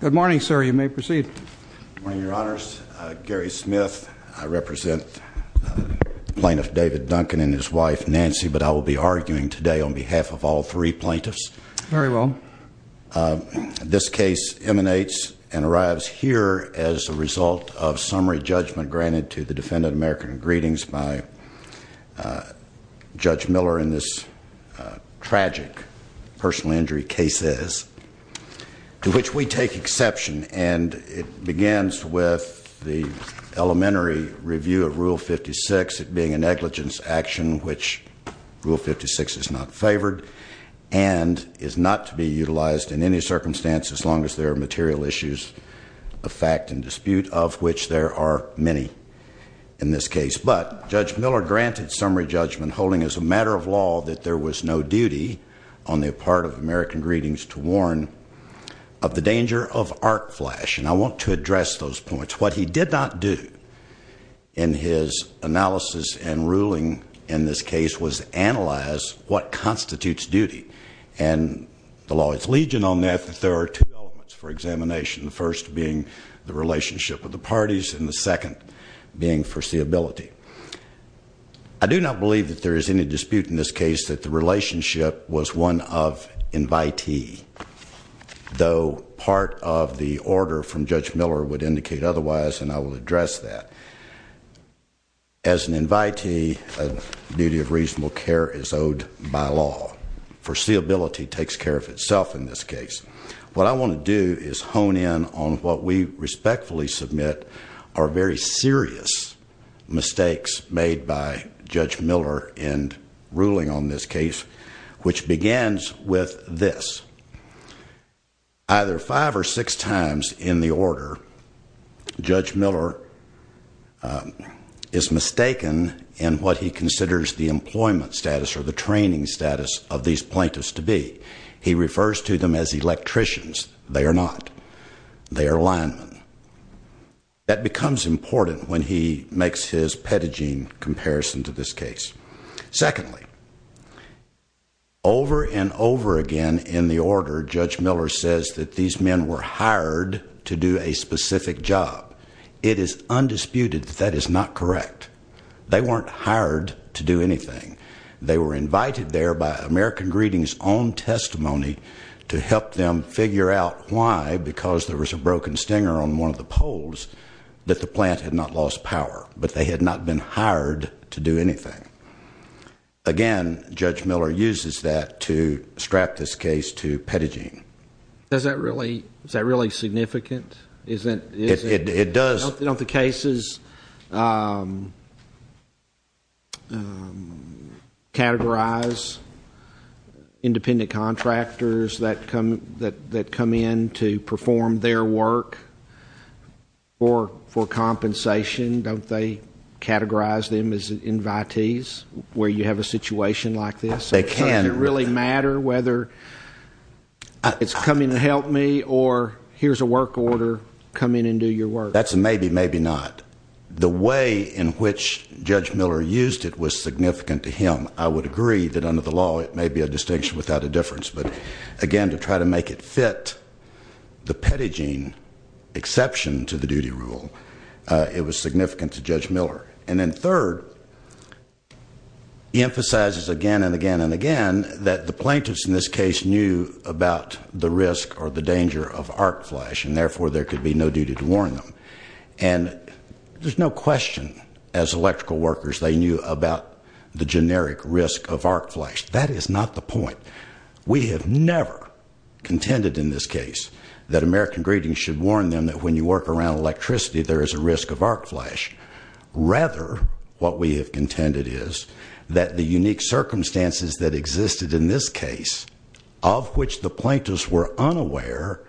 Good morning, sir. You may proceed. Good morning, Your Honors. Gary Smith. I represent Plaintiff David Duncan and his wife, Nancy, but I will be arguing today on behalf of all three plaintiffs. Very well. This case emanates and arrives here as a result of summary judgment granted to the defendant, American Greetings, by Judge Miller in this tragic personal injury cases, to which we take exception. And it begins with the elementary review of Rule 56, it being a negligence action which Rule 56 is not favored and is not to be utilized in any circumstance as long as there are material issues of fact and dispute of which there are many in this case. But Judge Miller granted summary judgment holding as a matter of law that there was no duty on the part of American Greetings to warn of the danger of arc flash. And I want to address those points. What he did not do in his analysis and ruling in this case was analyze what constitutes duty. And the law is legion on that, but there are two elements for examination. The first being the relationship with the parties and the second being foreseeability. I do not believe that there is any dispute in this case that the relationship was one of invitee, though part of the order from Judge Miller would indicate otherwise and I will address that. As an invitee, a duty of reasonable care is owed by law. Foreseeability takes care of itself in this case. What I want to do is hone in on what we respectfully submit are very serious mistakes made by Judge Miller in ruling on this case, which begins with this. Either five or six times in the order, Judge Miller is mistaken in what he considers the employment status or the training status of these plaintiffs to be. He refers to them as electricians. They are not. They are linemen. That becomes important when he makes his pedigee comparison to this case. Secondly, over and over again in the order, Judge Miller says that these men were hired to do a specific job. It is undisputed that that is not correct. They weren't hired to do anything. They were invited there by American Greetings' own testimony to help them figure out why, because there was a broken stinger on one of the poles, that the plant had not lost power. But they had not been hired to do anything. Again, Judge Miller uses that to strap this case to pedigeeing. Is that really significant? It does. Don't the cases categorize independent contractors that come in to perform their work for compensation? Don't they categorize them as invitees where you have a situation like this? They can. Does it really matter whether it's coming to help me or here's a work order, come in and do your work? That's a maybe, maybe not. The way in which Judge Miller used it was significant to him. I would agree that under the law it may be a distinction without a difference. But, again, to try to make it fit the pedigeeing exception to the duty rule, it was significant to Judge Miller. And then, third, he emphasizes again and again and again that the plaintiffs in this case knew about the risk or the danger of arc flash. And, therefore, there could be no duty to warn them. And there's no question, as electrical workers, they knew about the generic risk of arc flash. That is not the point. We have never contended in this case that American Greetings should warn them that when you work around electricity there is a risk of arc flash. Rather, what we have contended is that the unique circumstances that existed in this case, of which the plaintiffs were unaware,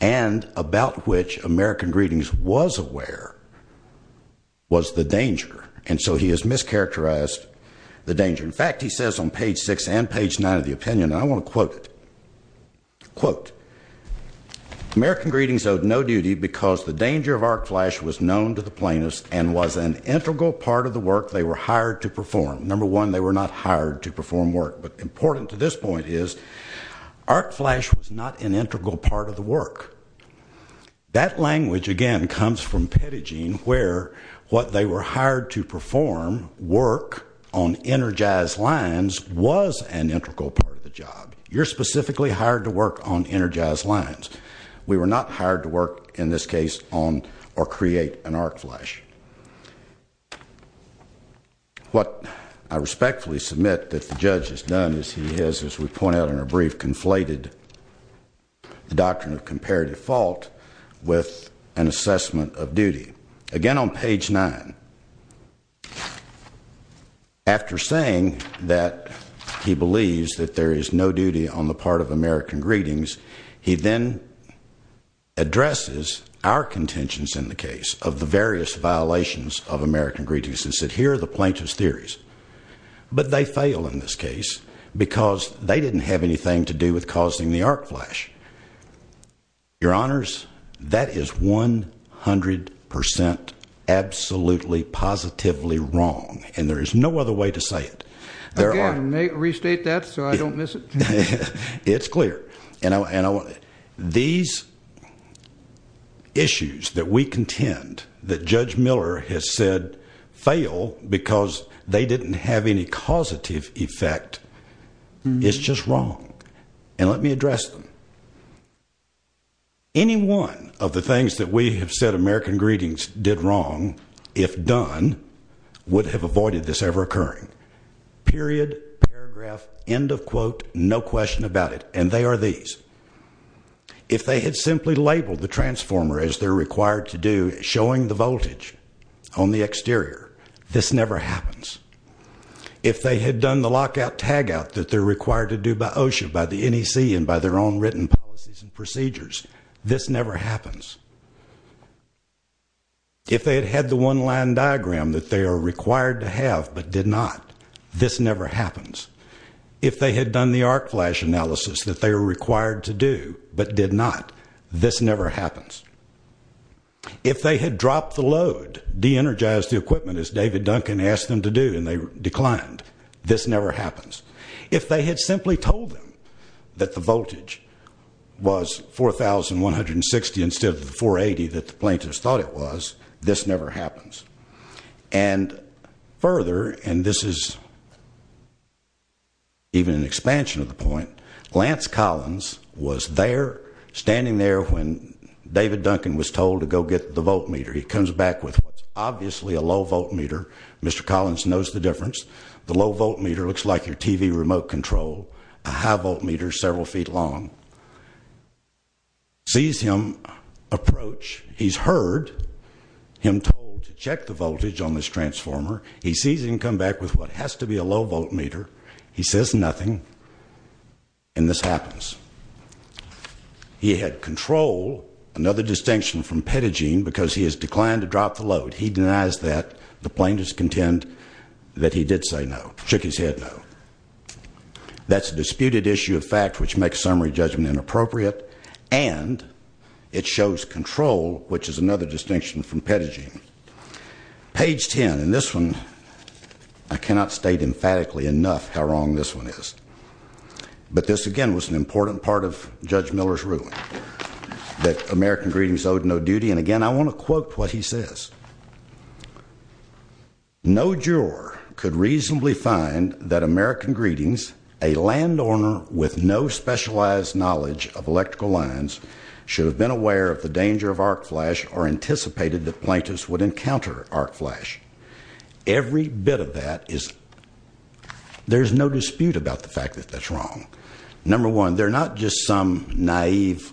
and about which American Greetings was aware, was the danger. And so he has mischaracterized the danger. In fact, he says on page 6 and page 9 of the opinion, and I want to quote it, quote, American Greetings owed no duty because the danger of arc flash was known to the plaintiffs and was an integral part of the work they were hired to perform. Number one, they were not hired to perform work. But important to this point is arc flash was not an integral part of the work. That language, again, comes from Pettygene where what they were hired to perform, work on energized lines, was an integral part of the job. You're specifically hired to work on energized lines. We were not hired to work, in this case, on or create an arc flash. What I respectfully submit that the judge has done is he has, as we pointed out in our brief, conflated the doctrine of comparative fault with an assessment of duty. Again, on page 9, after saying that he believes that there is no duty on the part of American Greetings, he then addresses our contentions in the case of the various violations of American Greetings and said here are the plaintiff's theories. But they fail in this case because they didn't have anything to do with causing the arc flash. Your Honors, that is 100% absolutely positively wrong, and there is no other way to say it. Again, may I restate that so I don't miss it? It's clear. These issues that we contend that Judge Miller has said fail because they didn't have any causative effect is just wrong. And let me address them. Any one of the things that we have said American Greetings did wrong, if done, would have avoided this ever occurring. Period, paragraph, end of quote, no question about it. And they are these. If they had simply labeled the transformer as they're required to do, showing the voltage on the exterior, this never happens. If they had done the lockout tagout that they're required to do by OSHA, by the NEC, and by their own written policies and procedures, this never happens. If they had had the one-line diagram that they are required to have but did not, this never happens. If they had done the arc flash analysis that they are required to do but did not, this never happens. If they had dropped the load, de-energized the equipment as David Duncan asked them to do and they declined, this never happens. If they had simply told them that the voltage was 4,160 instead of the 480 that the plaintiffs thought it was, this never happens. And further, and this is even an expansion of the point. Lance Collins was there, standing there when David Duncan was told to go get the voltmeter. He comes back with what's obviously a low voltmeter. Mr. Collins knows the difference. The low voltmeter looks like your TV remote control. A high voltmeter is several feet long. Sees him approach. He's heard him told to check the voltage on this transformer. He sees him come back with what has to be a low voltmeter. He says nothing. And this happens. He had control, another distinction from Pedigene, because he has declined to drop the load. He denies that. The plaintiffs contend that he did say no. Shook his head no. That's a disputed issue of fact, which makes summary judgment inappropriate. And it shows control, which is another distinction from Pedigene. Page 10, and this one, I cannot state emphatically enough how wrong this one is. That American Greetings owed no duty. And, again, I want to quote what he says. No juror could reasonably find that American Greetings, a landowner with no specialized knowledge of electrical lines, should have been aware of the danger of arc flash or anticipated that plaintiffs would encounter arc flash. Every bit of that is, there's no dispute about the fact that that's wrong. Number one, they're not just some naive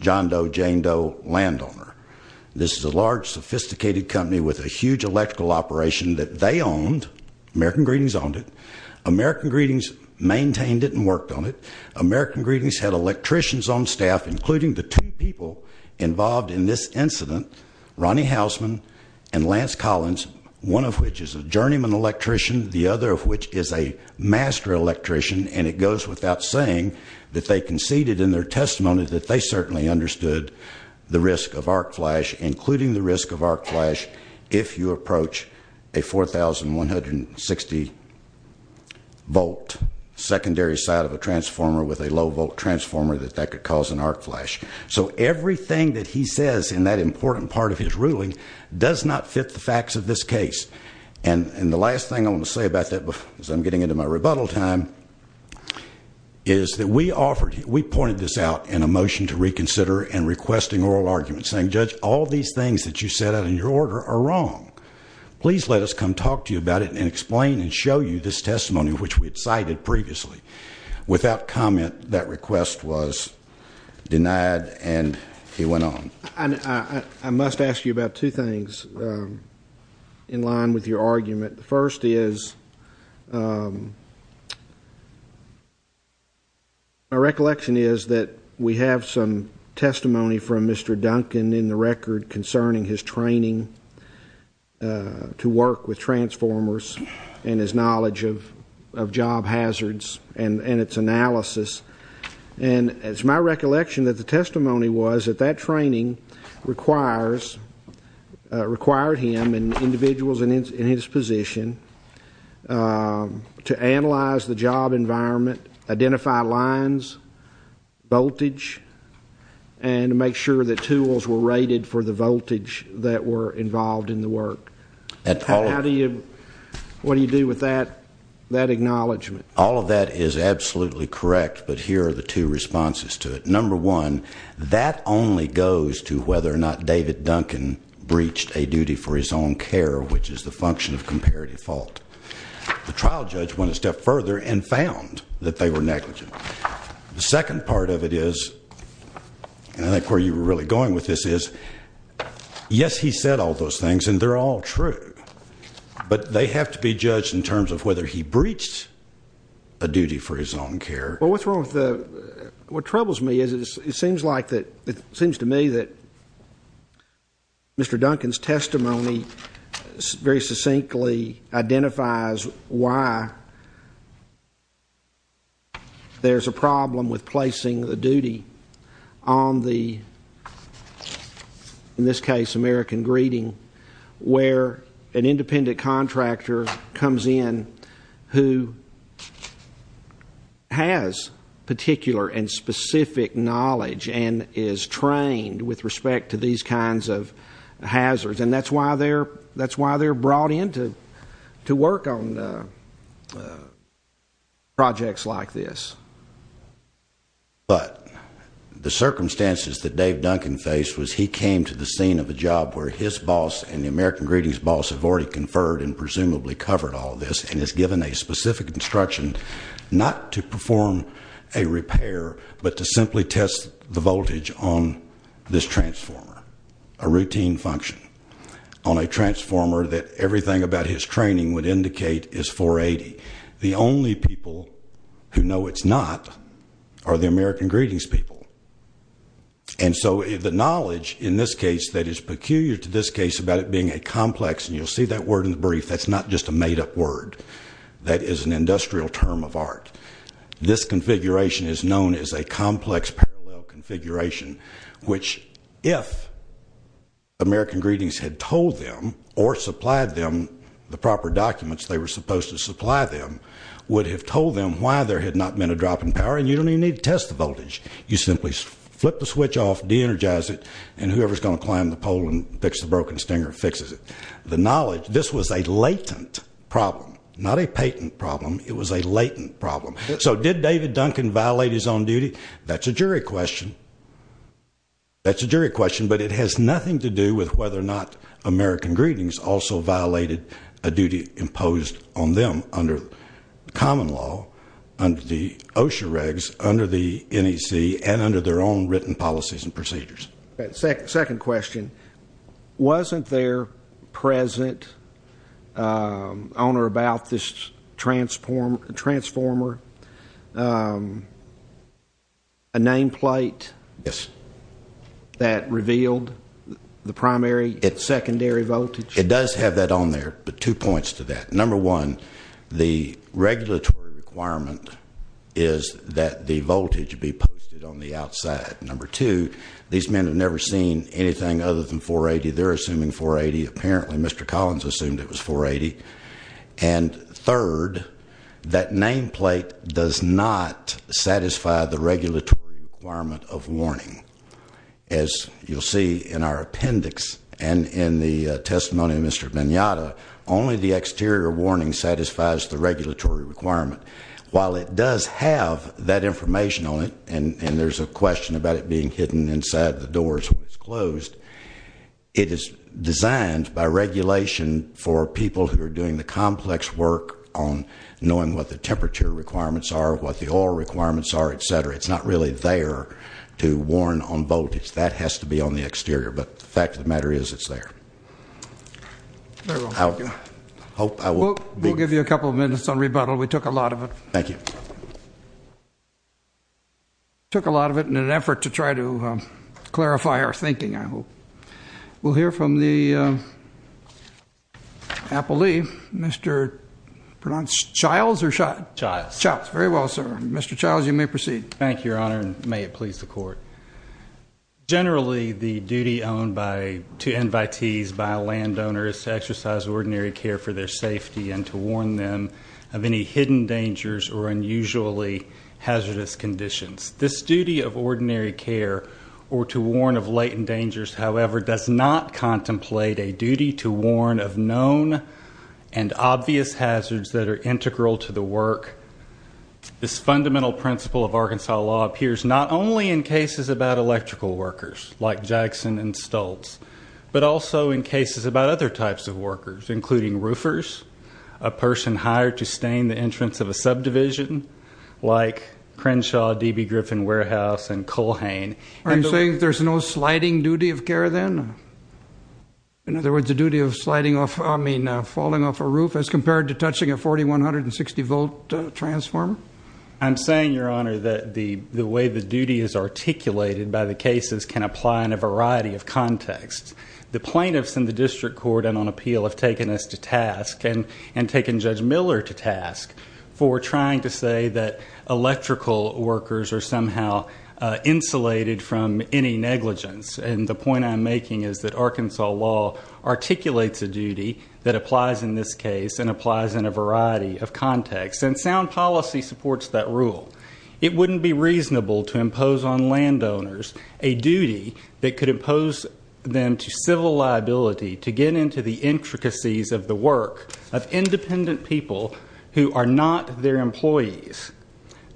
John Doe, Jane Doe landowner. This is a large, sophisticated company with a huge electrical operation that they owned. American Greetings owned it. American Greetings maintained it and worked on it. American Greetings had electricians on staff, including the two people involved in this incident, Ronnie Hausman and Lance Collins, one of which is a journeyman electrician, the other of which is a master electrician, and it goes without saying that they conceded in their testimony that they certainly understood the risk of arc flash, including the risk of arc flash if you approach a 4,160 volt secondary side of a transformer with a low volt transformer, that that could cause an arc flash. So everything that he says in that important part of his ruling does not fit the facts of this case. And the last thing I want to say about that, as I'm getting into my rebuttal time, is that we offered, we pointed this out in a motion to reconsider and requesting oral arguments, saying, Judge, all these things that you set out in your order are wrong. Please let us come talk to you about it and explain and show you this testimony which we had cited previously. Without comment, that request was denied and it went on. I must ask you about two things in line with your argument. The first is, my recollection is that we have some testimony from Mr. Duncan in the record concerning his training to work with transformers and his knowledge of job hazards and its analysis. And it's my recollection that the testimony was that that training required him and individuals in his position to analyze the job environment, identify lines, voltage, and to make sure that tools were rated for the voltage that were involved in the work. What do you do with that acknowledgment? All of that is absolutely correct, but here are the two responses to it. Number one, that only goes to whether or not David Duncan breached a duty for his own care, which is the function of comparative fault. The trial judge went a step further and found that they were negligent. The second part of it is, and I think where you were really going with this is, yes, he said all those things and they're all true, but they have to be judged in terms of whether he breached a duty for his own care. Well, what's wrong with the, what troubles me is it seems like, it seems to me that Mr. Duncan's testimony very succinctly identifies why there's a problem with placing the duty on the, in this case, American Greeting, where an independent contractor comes in who has particular and specific knowledge and is trained with respect to these kinds of hazards, and that's why they're brought in to work on projects like this. But the circumstances that Dave Duncan faced was he came to the scene of a job where his boss and the American Greetings boss have already conferred and presumably covered all of this and is given a specific instruction not to perform a repair, but to simply test the voltage on this transformer, a routine function, on a transformer that everything about his training would indicate is 480. The only people who know it's not are the American Greetings people. And so the knowledge in this case that is peculiar to this case about it being a complex, and you'll see that word in the brief, that's not just a made-up word. That is an industrial term of art. This configuration is known as a complex parallel configuration, which if American Greetings had told them or supplied them the proper documents they were supposed to supply them would have told them why there had not been a drop in power, and you don't even need to test the voltage. You simply flip the switch off, de-energize it, and whoever's going to climb the pole and fix the broken stinger fixes it. The knowledge, this was a latent problem, not a patent problem. It was a latent problem. So did David Duncan violate his own duty? That's a jury question. That's a jury question, but it has nothing to do with whether or not American Greetings also violated a duty imposed on them under common law, under the OSHA regs, under the NEC, and under their own written policies and procedures. Second question. Wasn't there present on or about this transformer a nameplate that revealed the primary and secondary voltage? It does have that on there, but two points to that. Number one, the regulatory requirement is that the voltage be posted on the outside. Number two, these men have never seen anything other than 480. They're assuming 480. Apparently Mr. Collins assumed it was 480. And third, that nameplate does not satisfy the regulatory requirement of warning. As you'll see in our appendix and in the testimony of Mr. Mignotta, only the exterior warning satisfies the regulatory requirement. While it does have that information on it, and there's a question about it being hidden inside the doors when it's closed, it is designed by regulation for people who are doing the complex work on knowing what the temperature requirements are, what the oil requirements are, et cetera. It's not really there to warn on voltage. That has to be on the exterior. But the fact of the matter is it's there. I hope I will be. We'll give you a couple of minutes on rebuttal. We took a lot of it. Thank you. Took a lot of it in an effort to try to clarify our thinking, I hope. We'll hear from the appellee, Mr. Chiles. Chiles. Very well, sir. Mr. Chiles, you may proceed. Thank you, Your Honor, and may it please the Court. Generally, the duty to invitees by a landowner is to exercise ordinary care for their safety and to warn them of any hidden dangers or unusually hazardous conditions. This duty of ordinary care or to warn of latent dangers, however, does not contemplate a duty to warn of known and obvious hazards that are integral to the work. This fundamental principle of Arkansas law appears not only in cases about electrical workers like Jackson and Stultz, but also in cases about other types of workers, including roofers, a person hired to stain the entrance of a subdivision like Crenshaw, D.B. Griffin Warehouse, and Culhane. Are you saying there's no sliding duty of care then? In other words, the duty of falling off a roof as compared to touching a 4,160-volt transformer? I'm saying, Your Honor, that the way the duty is articulated by the cases can apply in a variety of contexts. The plaintiffs in the district court and on appeal have taken us to task and taken Judge Miller to task for trying to say that electrical workers are somehow insulated from any negligence. And the point I'm making is that Arkansas law articulates a duty that applies in this case and applies in a variety of contexts. And sound policy supports that rule. It wouldn't be reasonable to impose on landowners a duty that could impose them to civil liability to get into the intricacies of the work of independent people who are not their employees.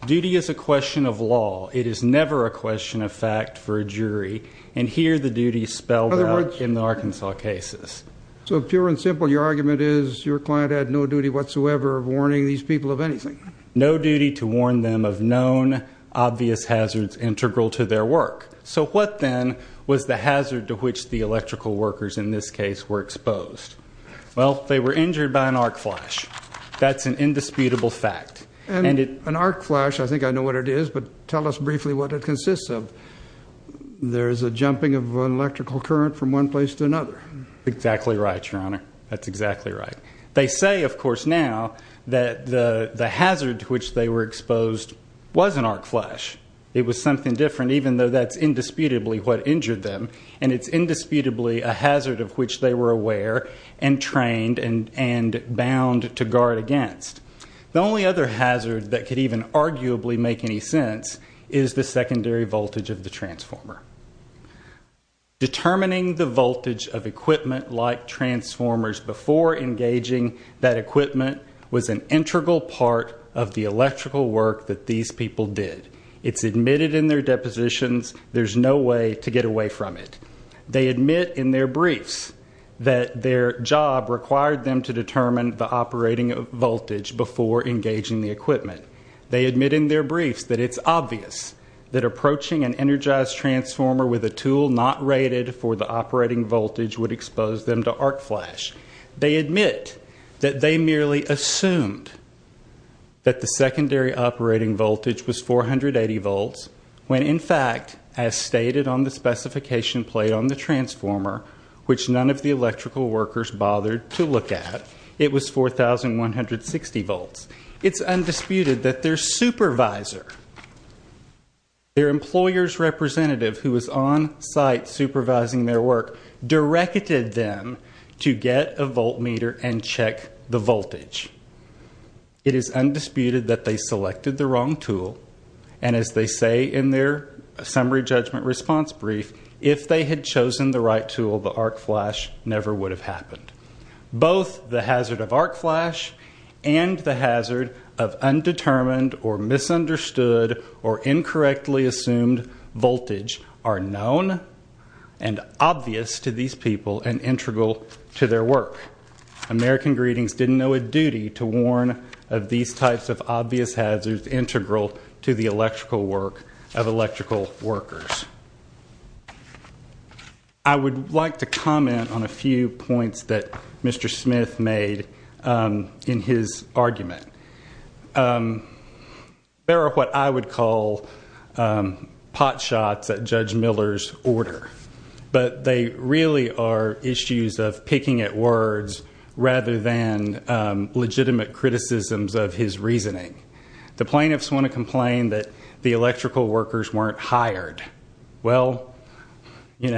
Duty is a question of law. It is never a question of fact for a jury. And here the duty is spelled out in the Arkansas cases. So pure and simple, your argument is your client had no duty whatsoever of warning these people of anything? No duty to warn them of known obvious hazards integral to their work. So what then was the hazard to which the electrical workers in this case were exposed? Well, they were injured by an arc flash. That's an indisputable fact. An arc flash, I think I know what it is, but tell us briefly what it consists of. There's a jumping of an electrical current from one place to another. Exactly right, your Honor. That's exactly right. They say, of course, now that the hazard to which they were exposed was an arc flash. It was something different, even though that's indisputably what injured them. And it's indisputably a hazard of which they were aware and trained and bound to guard against. The only other hazard that could even arguably make any sense is the secondary voltage of the transformer. Determining the voltage of equipment like transformers before engaging that equipment was an integral part of the electrical work that these people did. It's admitted in their depositions. There's no way to get away from it. They admit in their briefs that their job required them to determine the operating voltage before engaging the equipment. They admit in their briefs that it's obvious that approaching an energized transformer with a tool not rated for the operating voltage would expose them to arc flash. They admit that they merely assumed that the secondary operating voltage was 480 volts when, in fact, as stated on the specification plate on the transformer, which none of the electrical workers bothered to look at, it was 4,160 volts. It's undisputed that their supervisor, their employer's representative who was on site supervising their work, directed them to get a volt meter and check the voltage. It is undisputed that they selected the wrong tool. And as they say in their summary judgment response brief, if they had chosen the right tool, the arc flash never would have happened. Both the hazard of arc flash and the hazard of undetermined or misunderstood or incorrectly assumed voltage are known and obvious to these people and integral to their work. American Greetings didn't know a duty to warn of these types of obvious hazards integral to the electrical work of electrical workers. I would like to comment on a few points that Mr. Smith made in his argument. There are what I would call pot shots at Judge Miller's order. But they really are issues of picking at words rather than legitimate criticisms of his reasoning. The plaintiffs want to complain that the electrical workers weren't hired. Well, they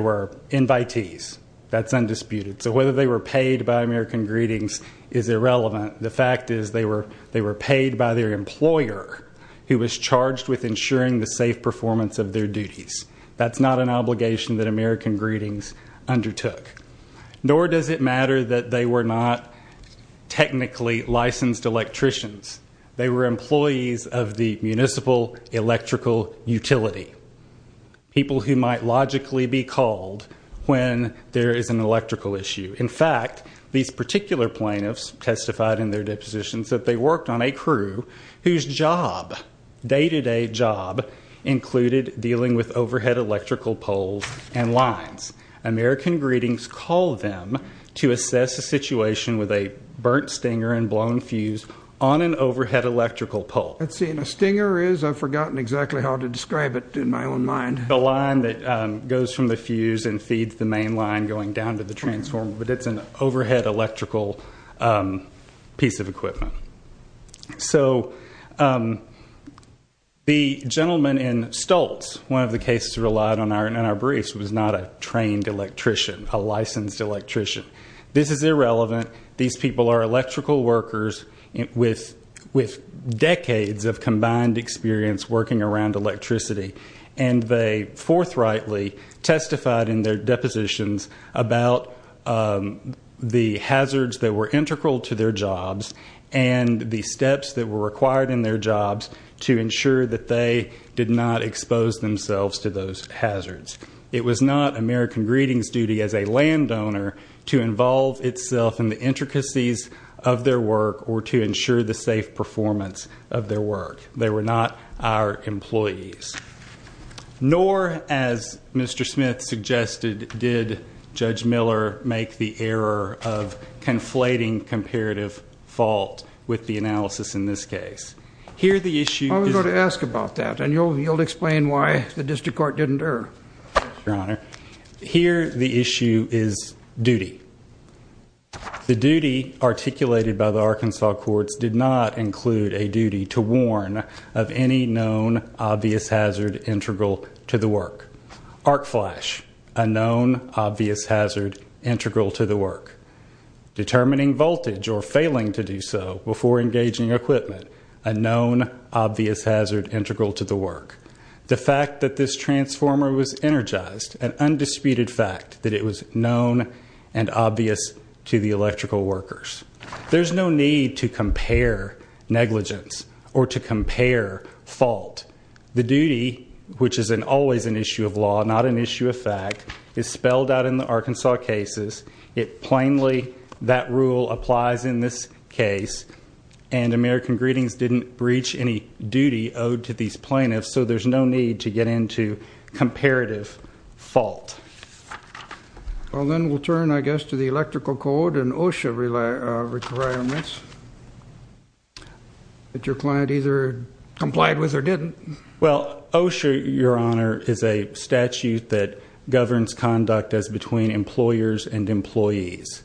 were invitees. That's undisputed. So whether they were paid by American Greetings is irrelevant. The fact is they were paid by their employer, who was charged with ensuring the safe performance of their duties. That's not an obligation that American Greetings undertook. Nor does it matter that they were not technically licensed electricians. They were employees of the municipal electrical utility, people who might logically be called when there is an electrical issue. In fact, these particular plaintiffs testified in their depositions that they worked on a crew whose job, day-to-day job, included dealing with overhead electrical poles and lines. American Greetings called them to assess a situation with a burnt stinger and blown fuse on an overhead electrical pole. Let's see. And a stinger is? I've forgotten exactly how to describe it in my own mind. The line that goes from the fuse and feeds the main line going down to the transformer. But it's an overhead electrical piece of equipment. So the gentleman in Stoltz, one of the cases relied on in our briefs, was not a trained electrician, a licensed electrician. This is irrelevant. These people are electrical workers with decades of combined experience working around electricity. And they forthrightly testified in their depositions about the hazards that were integral to their jobs and the steps that were required in their jobs to ensure that they did not expose themselves to those hazards. It was not American Greetings' duty as a landowner to involve itself in the intricacies of their work or to ensure the safe performance of their work. They were not our employees. Nor, as Mr. Smith suggested, did Judge Miller make the error of conflating comparative fault with the analysis in this case. I was going to ask about that, and you'll explain why the district court didn't err. Here, the issue is duty. The duty articulated by the Arkansas courts did not include a duty to warn of any known obvious hazard integral to the work. Arc flash, a known obvious hazard integral to the work. Determining voltage or failing to do so before engaging equipment, a known obvious hazard integral to the work. The fact that this transformer was energized, an undisputed fact that it was known and obvious to the electrical workers. There's no need to compare negligence or to compare fault. The duty, which is always an issue of law, not an issue of fact, is spelled out in the Arkansas cases. It plainly, that rule applies in this case. And American Greetings didn't breach any duty owed to these plaintiffs, so there's no need to get into comparative fault. Well, then we'll turn, I guess, to the electrical code and OSHA requirements that your client either complied with or didn't. Well, OSHA, your honor, is a statute that governs conduct as between employers and employees.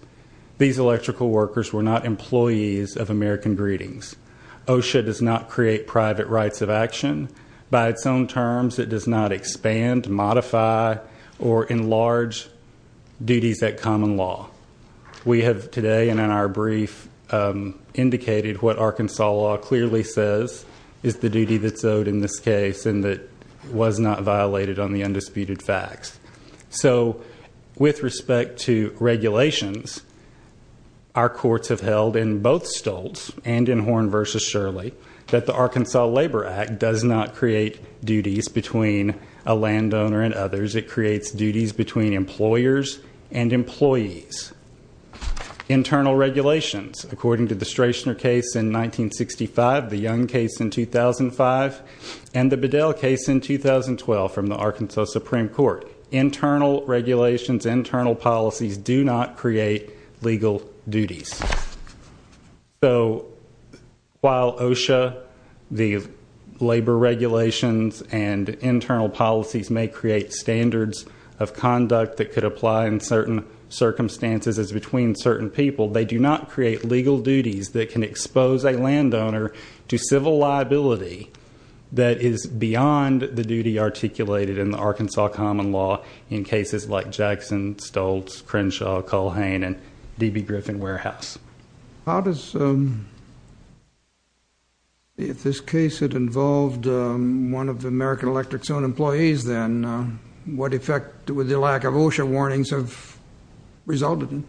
These electrical workers were not employees of American Greetings. OSHA does not create private rights of action. By its own terms, it does not expand, modify, or enlarge duties at common law. We have today, and in our brief, indicated what Arkansas law clearly says is the duty that's owed in this case, and that was not violated on the undisputed facts. So, with respect to regulations, our courts have held in both Stoltz and in Horn v. Shirley, that the Arkansas Labor Act does not create duties between a landowner and others. It creates duties between employers and employees. Internal regulations, according to the Strashner case in 1965, the Young case in 2005, and the Bedell case in 2012 from the Arkansas Supreme Court, internal regulations, internal policies do not create legal duties. So, while OSHA, the labor regulations, and internal policies may create standards of conduct that could apply in certain circumstances as between certain people, they do not create legal duties that can expose a landowner to civil liability that is beyond the duty articulated in the Arkansas common law in cases like Jackson, Stoltz, Crenshaw, Culhane, and D.B. Griffin Warehouse. If this case had involved one of American Electric's own employees, then what effect would the lack of OSHA warnings have resulted in?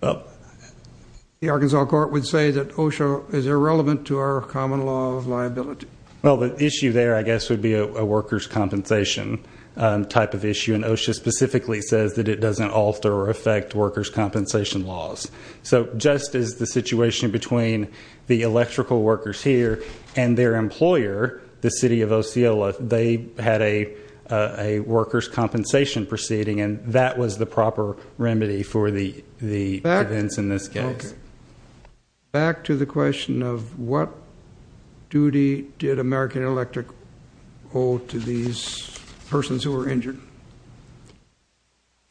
The Arkansas court would say that OSHA is irrelevant to our common law of liability. Well, the issue there, I guess, would be a workers' compensation type of issue, and OSHA specifically says that it doesn't alter or affect workers' compensation laws. So, just as the situation between the electrical workers here and their employer, the city of Osceola, they had a workers' compensation proceeding, and that was the proper remedy for the events in this case. Back to the question of what duty did American Electric owe to these persons who were injured?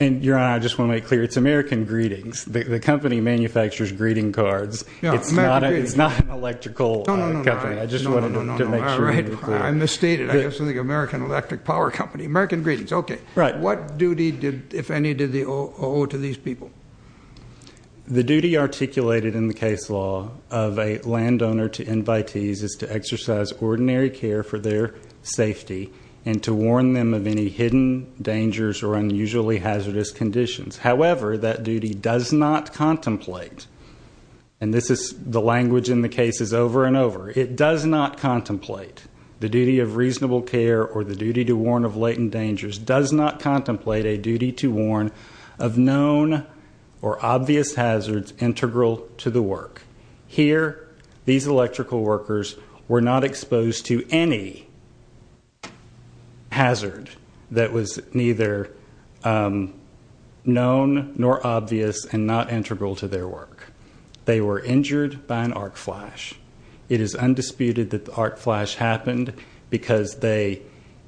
Your Honor, I just want to make clear, it's American Greetings. The company manufactures greeting cards. It's not an electrical company. I just wanted to make sure you were clear. I misstated. I guess I think American Electric Power Company. American Greetings, okay. What duty, if any, did they owe to these people? The duty articulated in the case law of a landowner to invitees is to exercise ordinary care for their safety and to warn them of any hidden dangers or unusually hazardous conditions. However, that duty does not contemplate, and the language in the case is over and over, it does not contemplate. The duty of reasonable care or the duty to warn of latent dangers does not contemplate a duty to warn of known or obvious hazards integral to the work. Here, these electrical workers were not exposed to any hazard that was neither known nor obvious and not integral to their work. They were injured by an arc flash. It is undisputed that the arc flash happened because they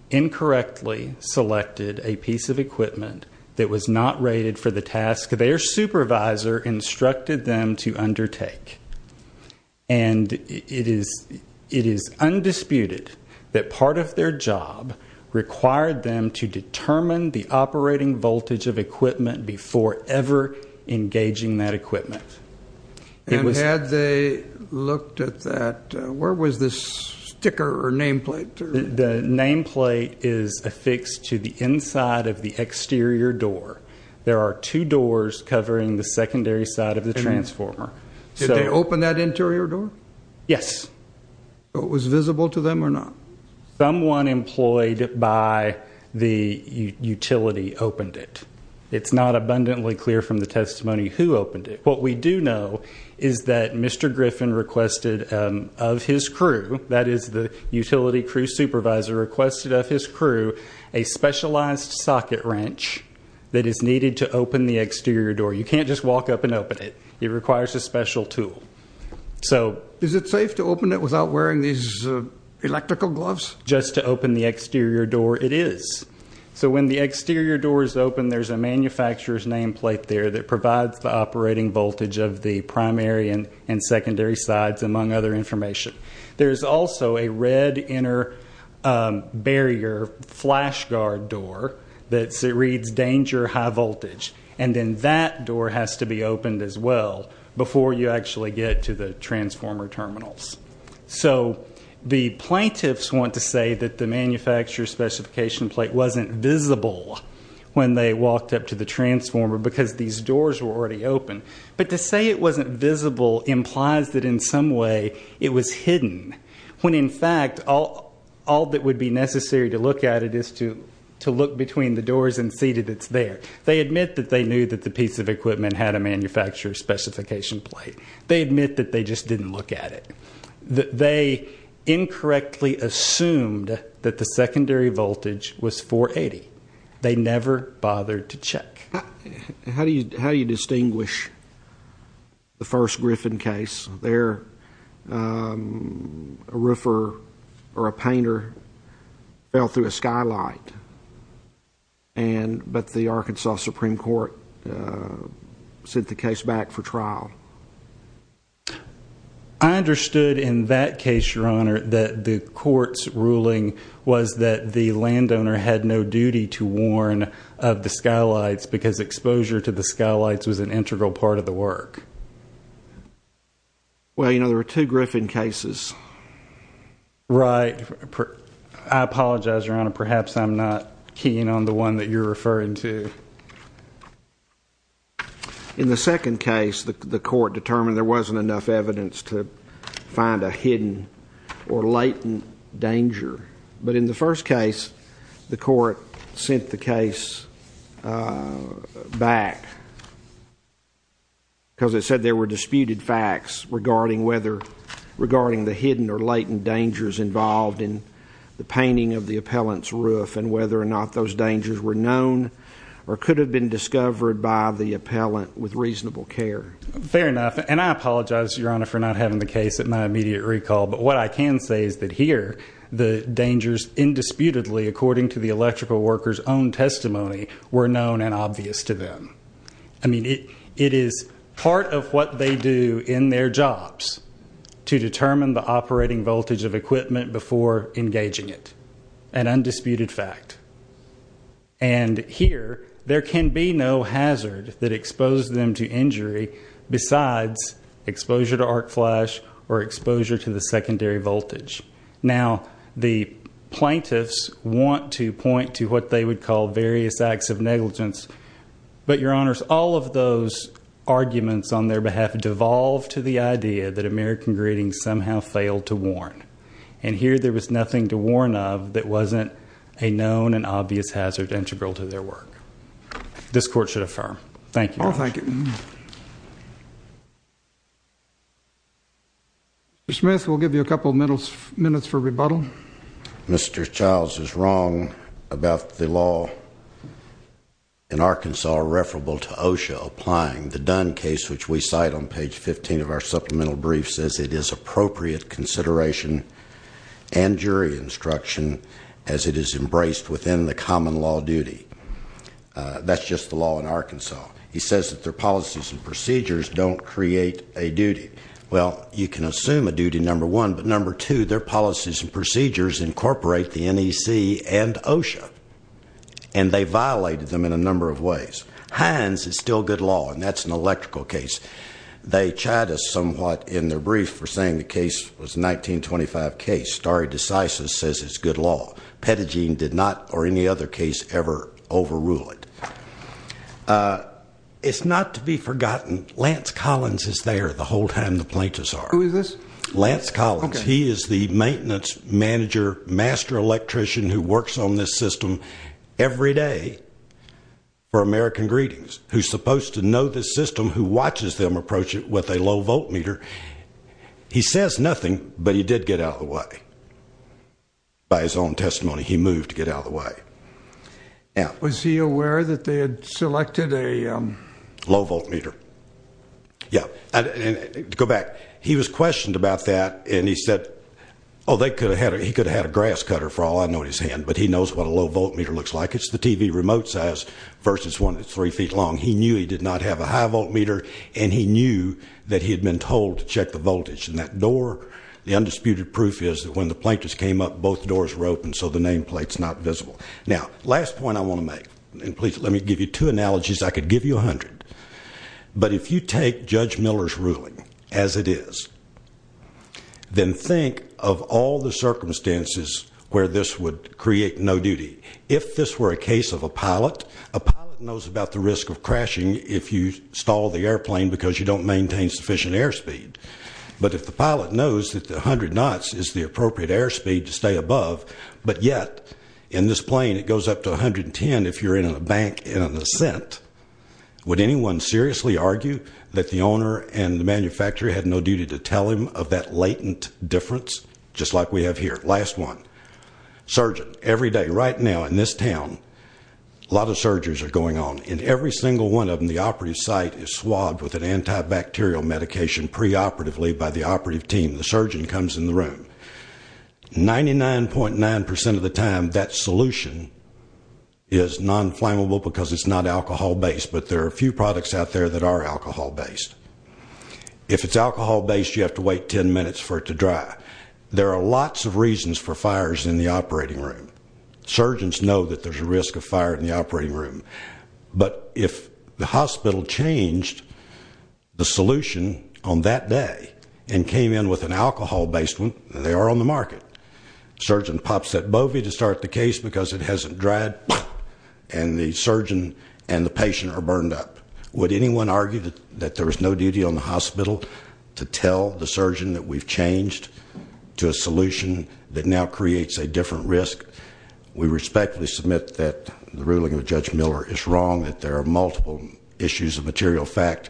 incorrectly selected a piece of equipment that was not rated for the task their supervisor instructed them to undertake. And it is undisputed that part of their job required them to determine the operating voltage of equipment before ever engaging that equipment. And had they looked at that, where was this sticker or nameplate? The nameplate is affixed to the inside of the exterior door. There are two doors covering the secondary side of the transformer. Did they open that interior door? Yes. Was it visible to them or not? Someone employed by the utility opened it. It's not abundantly clear from the testimony who opened it. What we do know is that Mr. Griffin requested of his crew, that is the utility crew supervisor, requested of his crew a specialized socket wrench that is needed to open the exterior door. You can't just walk up and open it. It requires a special tool. Is it safe to open it without wearing these electrical gloves? Just to open the exterior door, it is. So when the exterior door is open, there's a manufacturer's nameplate there that provides the operating voltage of the primary and secondary sides, among other information. There is also a red inner barrier flash guard door that reads danger high voltage. And then that door has to be opened as well before you actually get to the transformer terminals. So the plaintiffs want to say that the manufacturer's specification plate wasn't visible when they walked up to the transformer because these doors were already open. But to say it wasn't visible implies that in some way it was hidden, when in fact all that would be necessary to look at it is to look between the doors and see that it's there. They admit that they knew that the piece of equipment had a manufacturer's specification plate. They admit that they just didn't look at it. They incorrectly assumed that the secondary voltage was 480. They never bothered to check. How do you distinguish the first Griffin case? There, a roofer or a painter fell through a skylight, but the Arkansas Supreme Court sent the case back for trial. I understood in that case, Your Honor, that the court's ruling was that the landowner had no duty to warn of the skylights because exposure to the skylights was an integral part of the work. Well, you know, there were two Griffin cases. Right. I apologize, Your Honor. Perhaps I'm not keen on the one that you're referring to. In the second case, the court determined there wasn't enough evidence to find a hidden or latent danger. But in the first case, the court sent the case back because it said there were disputed facts regarding whether, regarding the hidden or latent dangers involved in the painting of the appellant's roof and whether or not those dangers were known or could have been discovered by the appellant with reasonable care. Fair enough, and I apologize, Your Honor, for not having the case at my immediate recall. But what I can say is that here, the dangers indisputably, according to the electrical worker's own testimony, were known and obvious to them. I mean, it is part of what they do in their jobs to determine the operating voltage of equipment before engaging it, an undisputed fact. And here, there can be no hazard that exposed them to injury besides exposure to arc flash or exposure to the secondary voltage. Now, the plaintiffs want to point to what they would call various acts of negligence. But, Your Honors, all of those arguments on their behalf devolve to the idea that American Greetings somehow failed to warn. And here, there was nothing to warn of that wasn't a known and obvious hazard integral to their work. This court should affirm. Thank you. Oh, thank you. Thank you. Mr. Smith, we'll give you a couple minutes for rebuttal. Mr. Childs is wrong about the law in Arkansas referable to OSHA applying the Dunn case, which we cite on page 15 of our supplemental brief, says it is appropriate consideration and jury instruction as it is embraced within the common law duty. That's just the law in Arkansas. He says that their policies and procedures don't create a duty. Well, you can assume a duty, number one. But, number two, their policies and procedures incorporate the NEC and OSHA. And they violated them in a number of ways. Hines is still good law, and that's an electrical case. They chided us somewhat in their brief for saying the case was a 1925 case. Stare decisis says it's good law. Pettigine did not, or any other case, ever overrule it. It's not to be forgotten, Lance Collins is there the whole time the plaintiffs are. Who is this? Lance Collins. He is the maintenance manager, master electrician who works on this system every day for American Greetings, who's supposed to know this system, who watches them approach it with a low volt meter. He says nothing, but he did get out of the way. By his own testimony, he moved to get out of the way. Was he aware that they had selected a? Low volt meter. Yeah. Go back. He was questioned about that, and he said, oh, he could have had a grass cutter for all I know in his hand, but he knows what a low volt meter looks like. It's the TV remote size versus one that's three feet long. He knew he did not have a high volt meter, and he knew that he had been told to check the voltage in that door. The undisputed proof is that when the plaintiffs came up, both doors were open, so the nameplate's not visible. Now, last point I want to make, and please let me give you two analogies. I could give you 100, but if you take Judge Miller's ruling as it is, then think of all the circumstances where this would create no duty. If this were a case of a pilot, a pilot knows about the risk of crashing if you stall the airplane because you don't maintain sufficient airspeed. But if the pilot knows that 100 knots is the appropriate airspeed to stay above, but yet in this plane it goes up to 110 if you're in a bank in an ascent, would anyone seriously argue that the owner and the manufacturer had no duty to tell him of that latent difference, just like we have here? Last one. Surgeon. Every day, right now, in this town, a lot of surgeries are going on. In every single one of them, the operative site is swabbed with an antibacterial medication preoperatively by the operative team. The surgeon comes in the room. 99.9% of the time, that solution is non-flammable because it's not alcohol-based, but there are a few products out there that are alcohol-based. If it's alcohol-based, you have to wait 10 minutes for it to dry. There are lots of reasons for fires in the operating room. Surgeons know that there's a risk of fire in the operating room. But if the hospital changed the solution on that day and came in with an alcohol-based one, they are on the market. The surgeon pops that bovie to start the case because it hasn't dried, and the surgeon and the patient are burned up. Would anyone argue that there is no duty on the hospital to tell the surgeon that we've changed to a solution that now creates a different risk? We respectfully submit that the ruling of Judge Miller is wrong, that there are multiple issues of material fact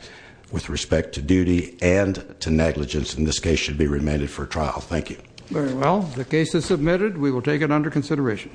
with respect to duty and to negligence, and this case should be remanded for trial. Thank you. Very well. The case is submitted. We will take it under consideration.